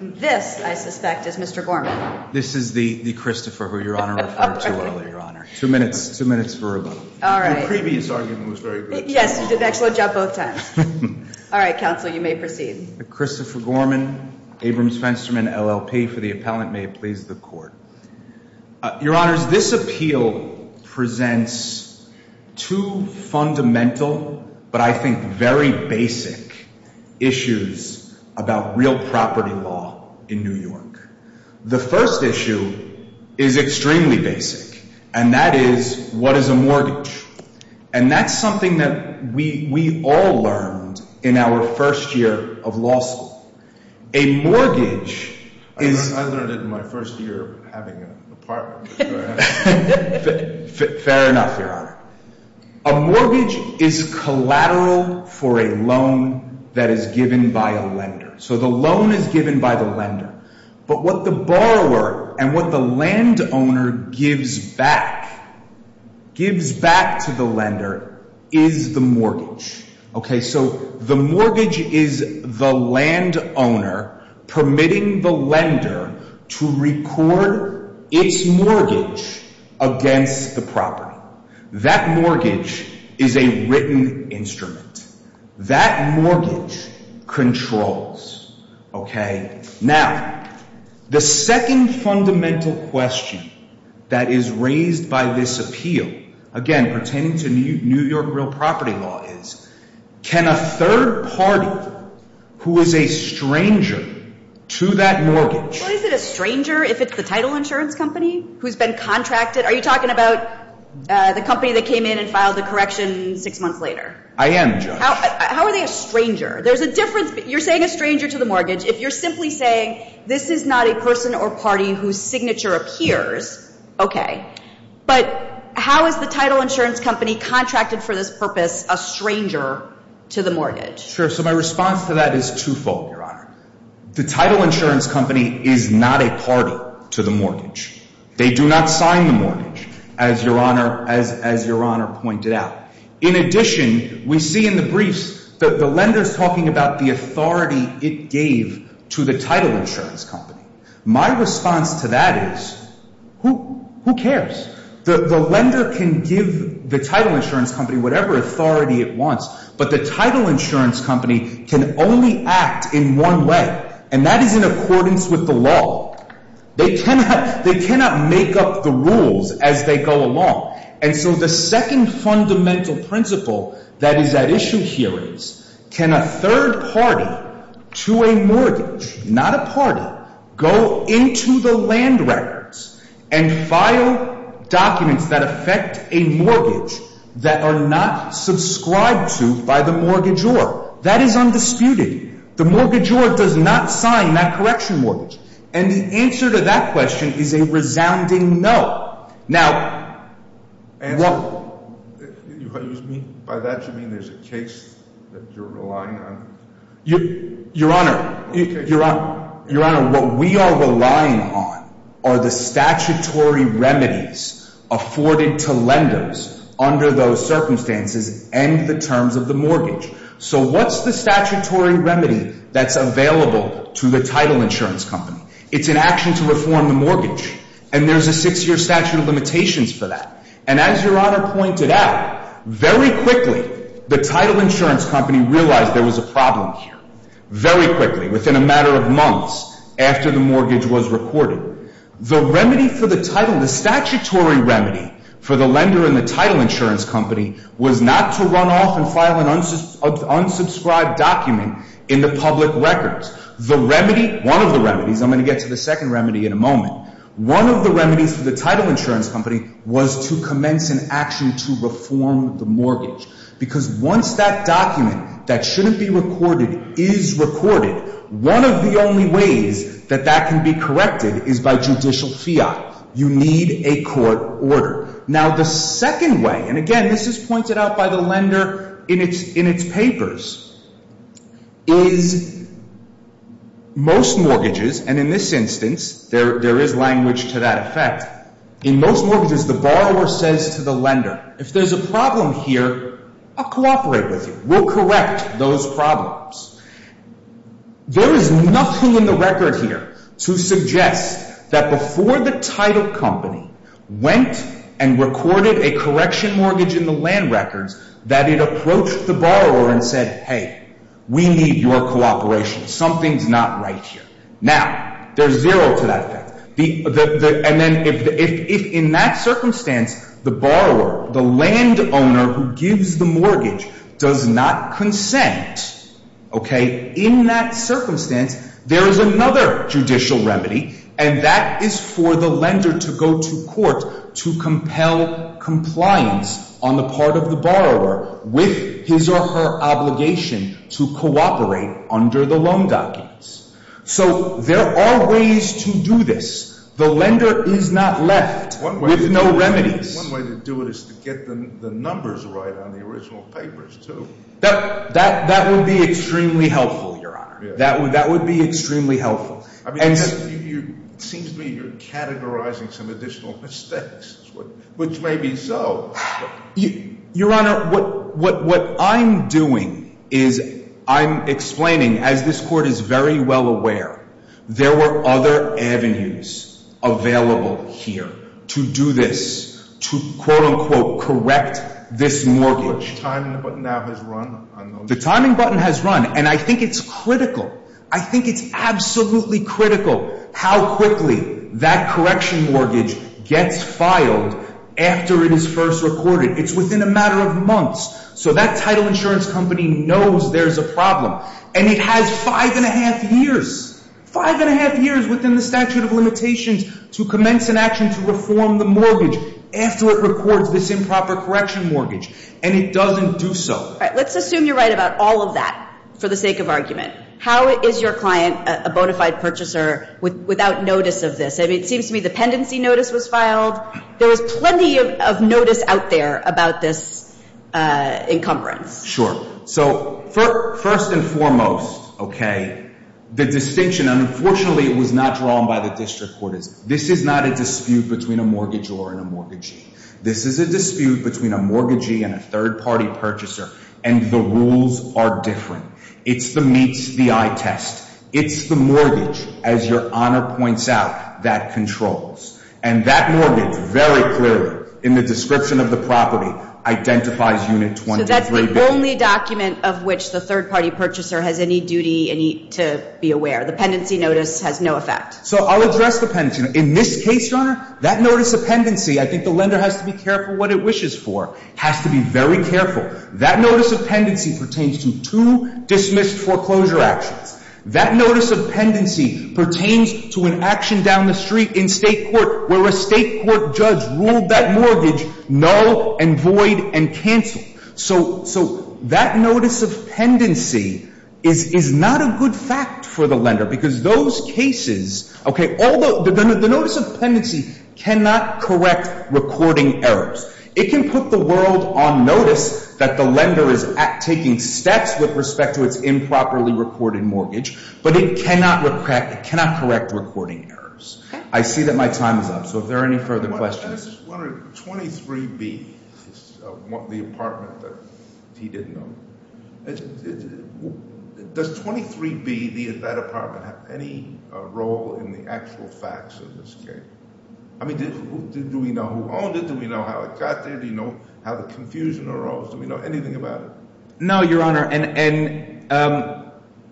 This, I suspect, is Mr. Gorman. This is the Christopher who Your Honor referred to earlier, Your Honor. Two minutes. Two minutes for a vote. Your previous argument was very good. Yes, you did an excellent job both times. All right, counsel, you may proceed. Christopher Gorman, Abrams Fensterman, LLP, for the appellant. May it please the court. Your Honors, this appeal presents two fundamental, but I think very basic, issues about real property law in New York. The first issue is extremely basic, and that is, what is a mortgage? And that's something that we all learned in our first year of law school. A mortgage is— I learned it in my first year of having an apartment. Fair enough, Your Honor. A mortgage is collateral for a loan that is given by a lender. So the loan is given by the lender. But what the borrower and what the landowner gives back, gives back to the lender, is the mortgage. So the mortgage is the landowner permitting the lender to record its mortgage against the property. That mortgage is a written instrument. That mortgage controls. Okay? Now, the second fundamental question that is raised by this appeal, again, pertaining to New York real property law, is, can a third party who is a stranger to that mortgage— Well, is it a stranger if it's the title insurance company who's been contracted? Are you talking about the company that came in and filed the correction six months later? I am, Judge. How are they a stranger? There's a difference—you're saying a stranger to the mortgage if you're simply saying this is not a person or party whose signature appears. Okay. But how is the title insurance company contracted for this purpose a stranger to the mortgage? Sure. So my response to that is twofold, Your Honor. The title insurance company is not a party to the mortgage. They do not sign the mortgage, as Your Honor pointed out. In addition, we see in the briefs that the lender is talking about the authority it gave to the title insurance company. My response to that is who cares? The lender can give the title insurance company whatever authority it wants, but the title insurance company can only act in one way, and that is in accordance with the law. They cannot make up the rules as they go along. And so the second fundamental principle that is at issue here is can a third party to a mortgage—not a party—go into the land records and file documents that affect a mortgage that are not subscribed to by the mortgagor? That is undisputed. The mortgagor does not sign that correction mortgage. And the answer to that question is a resounding no. And by that you mean there's a case that you're relying on? Your Honor, what we are relying on are the statutory remedies afforded to lenders under those circumstances and the terms of the mortgage. So what's the statutory remedy that's available to the title insurance company? It's an action to reform the mortgage, and there's a six-year statute of limitations for that. And as Your Honor pointed out, very quickly the title insurance company realized there was a problem here, very quickly, within a matter of months after the mortgage was recorded. The remedy for the title—the statutory remedy for the lender in the title insurance company was not to run off and file an unsubscribed document in the public records. The remedy—one of the remedies—I'm going to get to the second remedy in a moment. One of the remedies for the title insurance company was to commence an action to reform the mortgage. Because once that document that shouldn't be recorded is recorded, one of the only ways that that can be corrected is by judicial fiat. You need a court order. Now, the second way—and again, this is pointed out by the lender in its papers—is most mortgages, and in this instance there is language to that effect. In most mortgages, the borrower says to the lender, if there's a problem here, I'll cooperate with you. We'll correct those problems. There is nothing in the record here to suggest that before the title company went and recorded a correction mortgage in the land records that it approached the borrower and said, hey, we need your cooperation. Something's not right here. Now, there's zero to that effect. And then if in that circumstance the borrower, the landowner who gives the mortgage, does not consent, in that circumstance there is another judicial remedy, and that is for the lender to go to court to compel compliance on the part of the borrower with his or her obligation to cooperate under the loan documents. So there are ways to do this. The lender is not left with no remedies. One way to do it is to get the numbers right on the original papers, too. That would be extremely helpful, Your Honor. That would be extremely helpful. It seems to me you're categorizing some additional mistakes, which may be so. Your Honor, what I'm doing is I'm explaining, as this Court is very well aware, there were other avenues available here to do this, to quote, unquote, correct this mortgage. Which timing button now has run on those? The timing button has run. And I think it's critical. I think it's absolutely critical how quickly that correction mortgage gets filed after it is first recorded. It's within a matter of months. So that title insurance company knows there's a problem. And it has five and a half years, five and a half years within the statute of limitations, to commence an action to reform the mortgage after it records this improper correction mortgage. And it doesn't do so. All right, let's assume you're right about all of that for the sake of argument. How is your client a bona fide purchaser without notice of this? I mean, it seems to me the pendency notice was filed. There was plenty of notice out there about this encumbrance. Sure. So first and foremost, okay, the distinction, unfortunately, was not drawn by the district court. This is not a dispute between a mortgagor and a mortgagee. This is a dispute between a mortgagee and a third-party purchaser. And the rules are different. It's the meets the eye test. It's the mortgage, as Your Honor points out, that controls. And that mortgage very clearly in the description of the property identifies Unit 23B. So that's the only document of which the third-party purchaser has any duty to be aware. The pendency notice has no effect. So I'll address the pendency. In this case, Your Honor, that notice of pendency, I think the lender has to be careful what it wishes for, has to be very careful. That notice of pendency pertains to two dismissed foreclosure actions. That notice of pendency pertains to an action down the street in state court where a state court judge ruled that mortgage null and void and canceled. So that notice of pendency is not a good fact for the lender because those cases, okay, although the notice of pendency cannot correct recording errors. It can put the world on notice that the lender is taking steps with respect to its improperly recorded mortgage, but it cannot correct recording errors. I see that my time is up, so if there are any further questions. I'm just wondering, 23B, the apartment that he didn't own, does 23B, that apartment, have any role in the actual facts of this case? I mean, do we know who owned it? Do we know how it got there? Do we know how the confusion arose? Do we know anything about it? No, Your Honor, and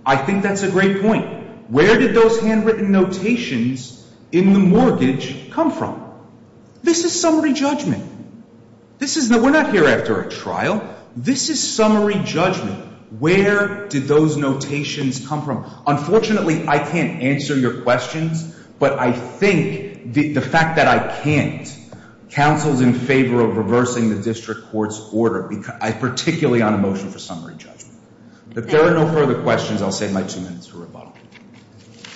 I think that's a great point. Where did those handwritten notations in the mortgage come from? This is summary judgment. We're not here after a trial. This is summary judgment. Where did those notations come from? Unfortunately, I can't answer your questions, but I think the fact that I can't counsels in favor of reversing the district court's order, particularly on a motion for summary judgment. If there are no further questions, I'll save my two minutes for rebuttal.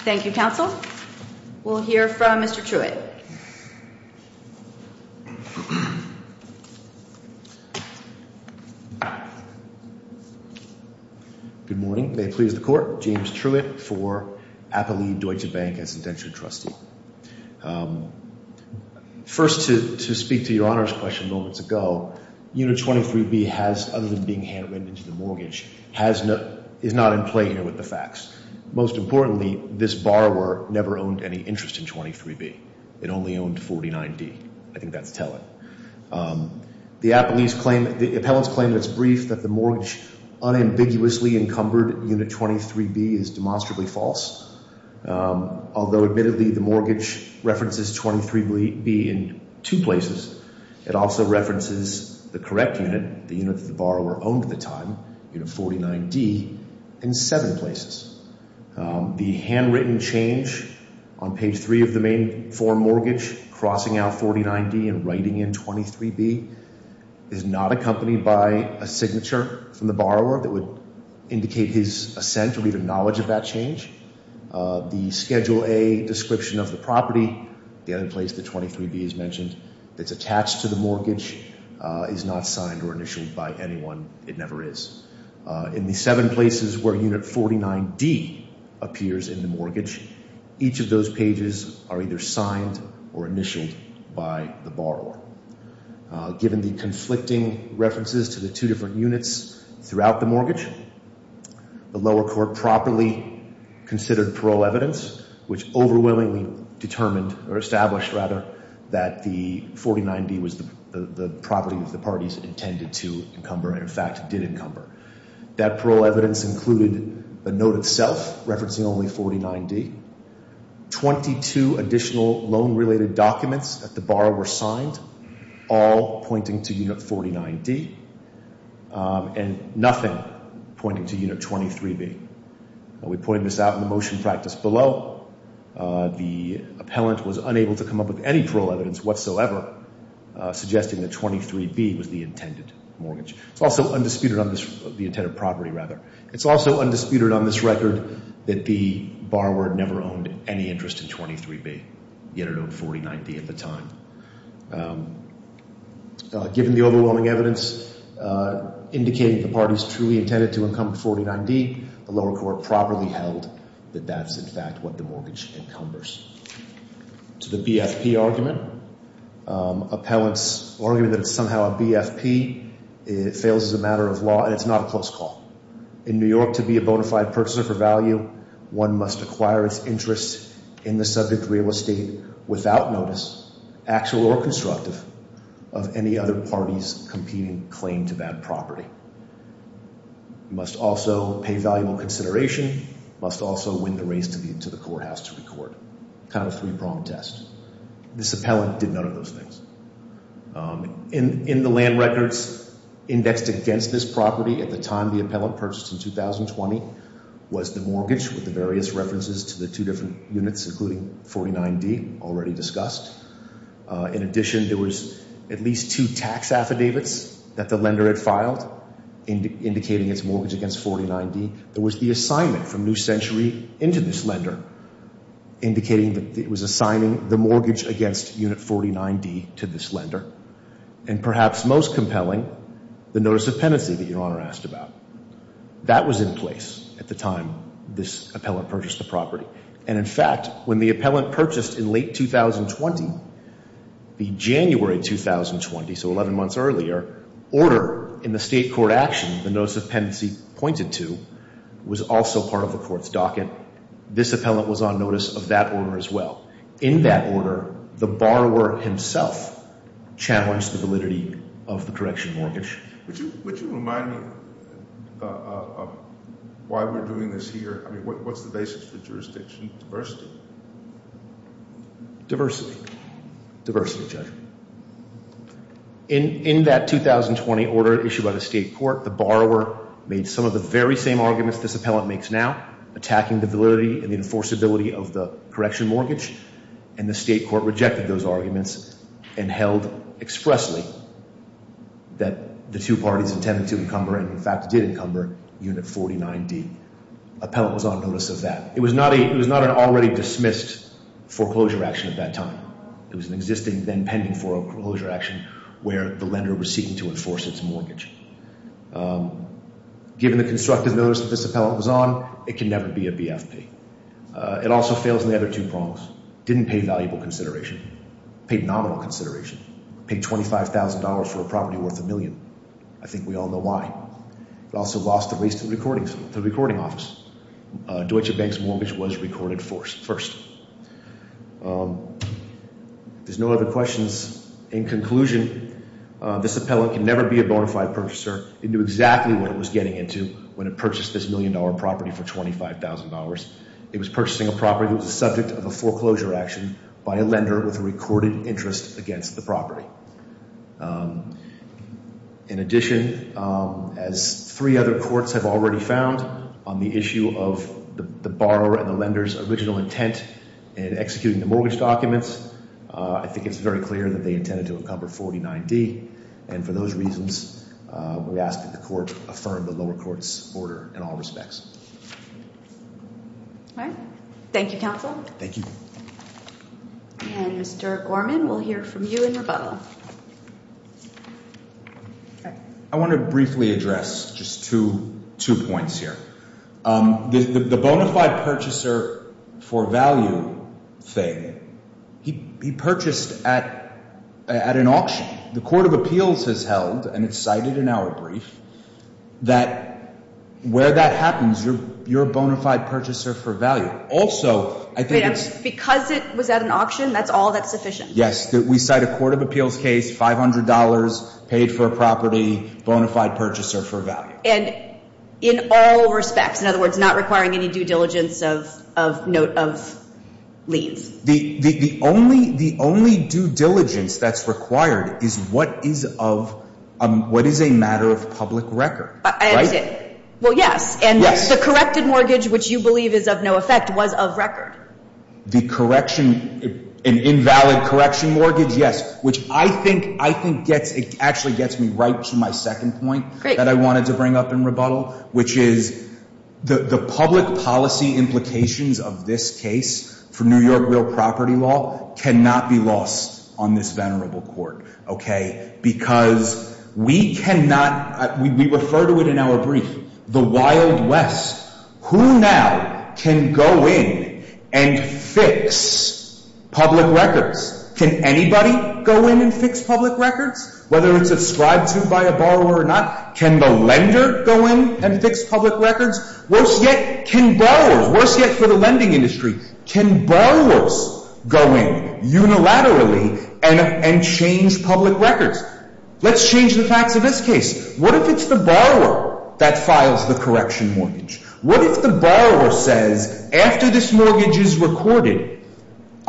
Thank you, counsel. We'll hear from Mr. Truitt. Good morning. May it please the Court. James Truitt for Appalied Deutsche Bank as an indentured trustee. First, to speak to Your Honor's question moments ago, Unit 23B has, other than being handwritten into the mortgage, is not in play here with the facts. Most importantly, this borrower never owned any interest in 23B. It only owned 49D. I think that's telling. The appellants claim that it's brief that the mortgage unambiguously encumbered Unit 23B is demonstrably false. Although, admittedly, the mortgage references 23B in two places, it also references the correct unit, the unit that the borrower owned at the time, Unit 49D, in seven places. The handwritten change on page three of the main form mortgage, crossing out 49D and writing in 23B, is not accompanied by a signature from the borrower that would indicate his assent or even knowledge of that change. The Schedule A description of the property, the other place that 23B is mentioned, that's attached to the mortgage is not signed or initialed by anyone. It never is. In the seven places where Unit 49D appears in the mortgage, each of those pages are either signed or initialed by the borrower. Given the conflicting references to the two different units throughout the mortgage, the lower court properly considered parole evidence, which overwhelmingly determined or established, rather, that the 49D was the property that the parties intended to encumber and, in fact, did encumber. That parole evidence included a note itself referencing only 49D. Twenty-two additional loan-related documents at the borrower signed, all pointing to Unit 49D, and nothing pointing to Unit 23B. We pointed this out in the motion practice below. The appellant was unable to come up with any parole evidence whatsoever suggesting that 23B was the intended mortgage. It's also undisputed on the intended property, rather. It's also undisputed on this record that the borrower never owned any interest in 23B, yet it owned 49D at the time. Given the overwhelming evidence indicating the parties truly intended to encumber 49D, the lower court properly held that that's, in fact, what the mortgage encumbers. To the BFP argument, appellant's argument that it's somehow a BFP fails as a matter of law, and it's not a close call. In New York, to be a bona fide purchaser for value, one must acquire its interest in the subject real estate without notice, actual or constructive, of any other party's competing claim to that property. You must also pay valuable consideration, must also win the race to the courthouse to record. Kind of a three-pronged test. This appellant did none of those things. In the land records indexed against this property at the time the appellant purchased in 2020 was the mortgage with the various references to the two different units, including 49D, already discussed. In addition, there was at least two tax affidavits that the lender had filed indicating its mortgage against 49D. There was the assignment from New Century into this lender indicating that it was assigning the mortgage against unit 49D to this lender. And perhaps most compelling, the notice of penancy that Your Honor asked about. That was in place at the time this appellant purchased the property. And in fact, when the appellant purchased in late 2020, the January 2020, so 11 months earlier, order in the state court action, the notice of penancy pointed to, was also part of the court's docket. This appellant was on notice of that order as well. In that order, the borrower himself challenged the validity of the correction mortgage. Would you remind me why we're doing this here? I mean, what's the basis for jurisdiction? Diversity. Diversity. Diversity, Judge. In that 2020 order issued by the state court, the borrower made some of the very same arguments this appellant makes now, attacking the validity and the enforceability of the correction mortgage. And the state court rejected those arguments and held expressly that the two parties intended to encumber and in fact did encumber unit 49D. Appellant was on notice of that. It was not an already dismissed foreclosure action at that time. It was an existing then pending foreclosure action where the lender was seeking to enforce its mortgage. Given the constructive notice that this appellant was on, it can never be a BFP. It also fails in the other two prongs. Didn't pay valuable consideration. Paid nominal consideration. Paid $25,000 for a property worth a million. I think we all know why. It also lost the race to the recording office. Deutsche Bank's mortgage was recorded first. There's no other questions. In conclusion, this appellant can never be a bona fide purchaser. It knew exactly what it was getting into when it purchased this million dollar property for $25,000. It was purchasing a property that was the subject of a foreclosure action by a lender with a recorded interest against the property. In addition, as three other courts have already found on the issue of the borrower and the lender's original intent in executing the mortgage documents, I think it's very clear that they intended to encumber 49D. And for those reasons, we ask that the court affirm the lower court's order in all respects. All right. Thank you, counsel. Thank you. And Mr. Gorman, we'll hear from you in rebuttal. I want to briefly address just two points here. The bona fide purchaser for value thing, he purchased at an auction. The Court of Appeals has held, and it's cited in our brief, that where that happens, you're a bona fide purchaser for value. Also, I think it's – Because it was at an auction, that's all that's sufficient? Yes. We cite a Court of Appeals case, $500 paid for a property, bona fide purchaser for value. And in all respects, in other words, not requiring any due diligence of leave. The only due diligence that's required is what is of – what is a matter of public record, right? That's it. Well, yes. And the corrected mortgage, which you believe is of no effect, was of record. The correction – an invalid correction mortgage, yes, which I think gets – it actually gets me right to my second point. Great. That I wanted to bring up in rebuttal, which is the public policy implications of this case for New York real property law cannot be lost on this venerable court, okay? Because we cannot – we refer to it in our brief, the wild west. Who now can go in and fix public records? Can anybody go in and fix public records? Whether it's ascribed to by a borrower or not, can the lender go in and fix public records? Worse yet, can borrowers – worse yet for the lending industry, can borrowers go in unilaterally and change public records? Let's change the facts of this case. What if it's the borrower that files the correction mortgage? What if the borrower says, after this mortgage is recorded –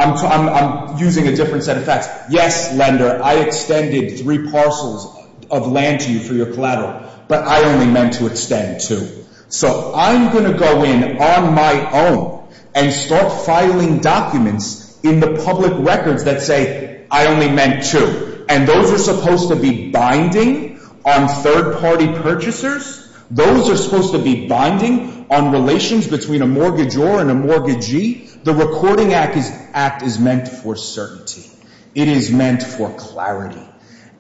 I'm using a different set of facts. Yes, lender, I extended three parcels of land to you for your collateral, but I only meant to extend two. So I'm going to go in on my own and start filing documents in the public records that say, I only meant two. And those are supposed to be binding on third-party purchasers? Those are supposed to be binding on relations between a mortgageor and a mortgagee? The Recording Act is meant for certainty. It is meant for clarity.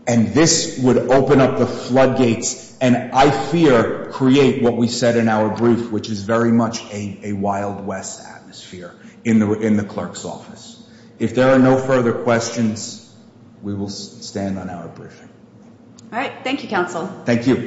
And this would open up the floodgates and, I fear, create what we said in our brief, which is very much a Wild West atmosphere in the clerk's office. If there are no further questions, we will stand on our briefing. All right. Thank you, counsel. Thank you.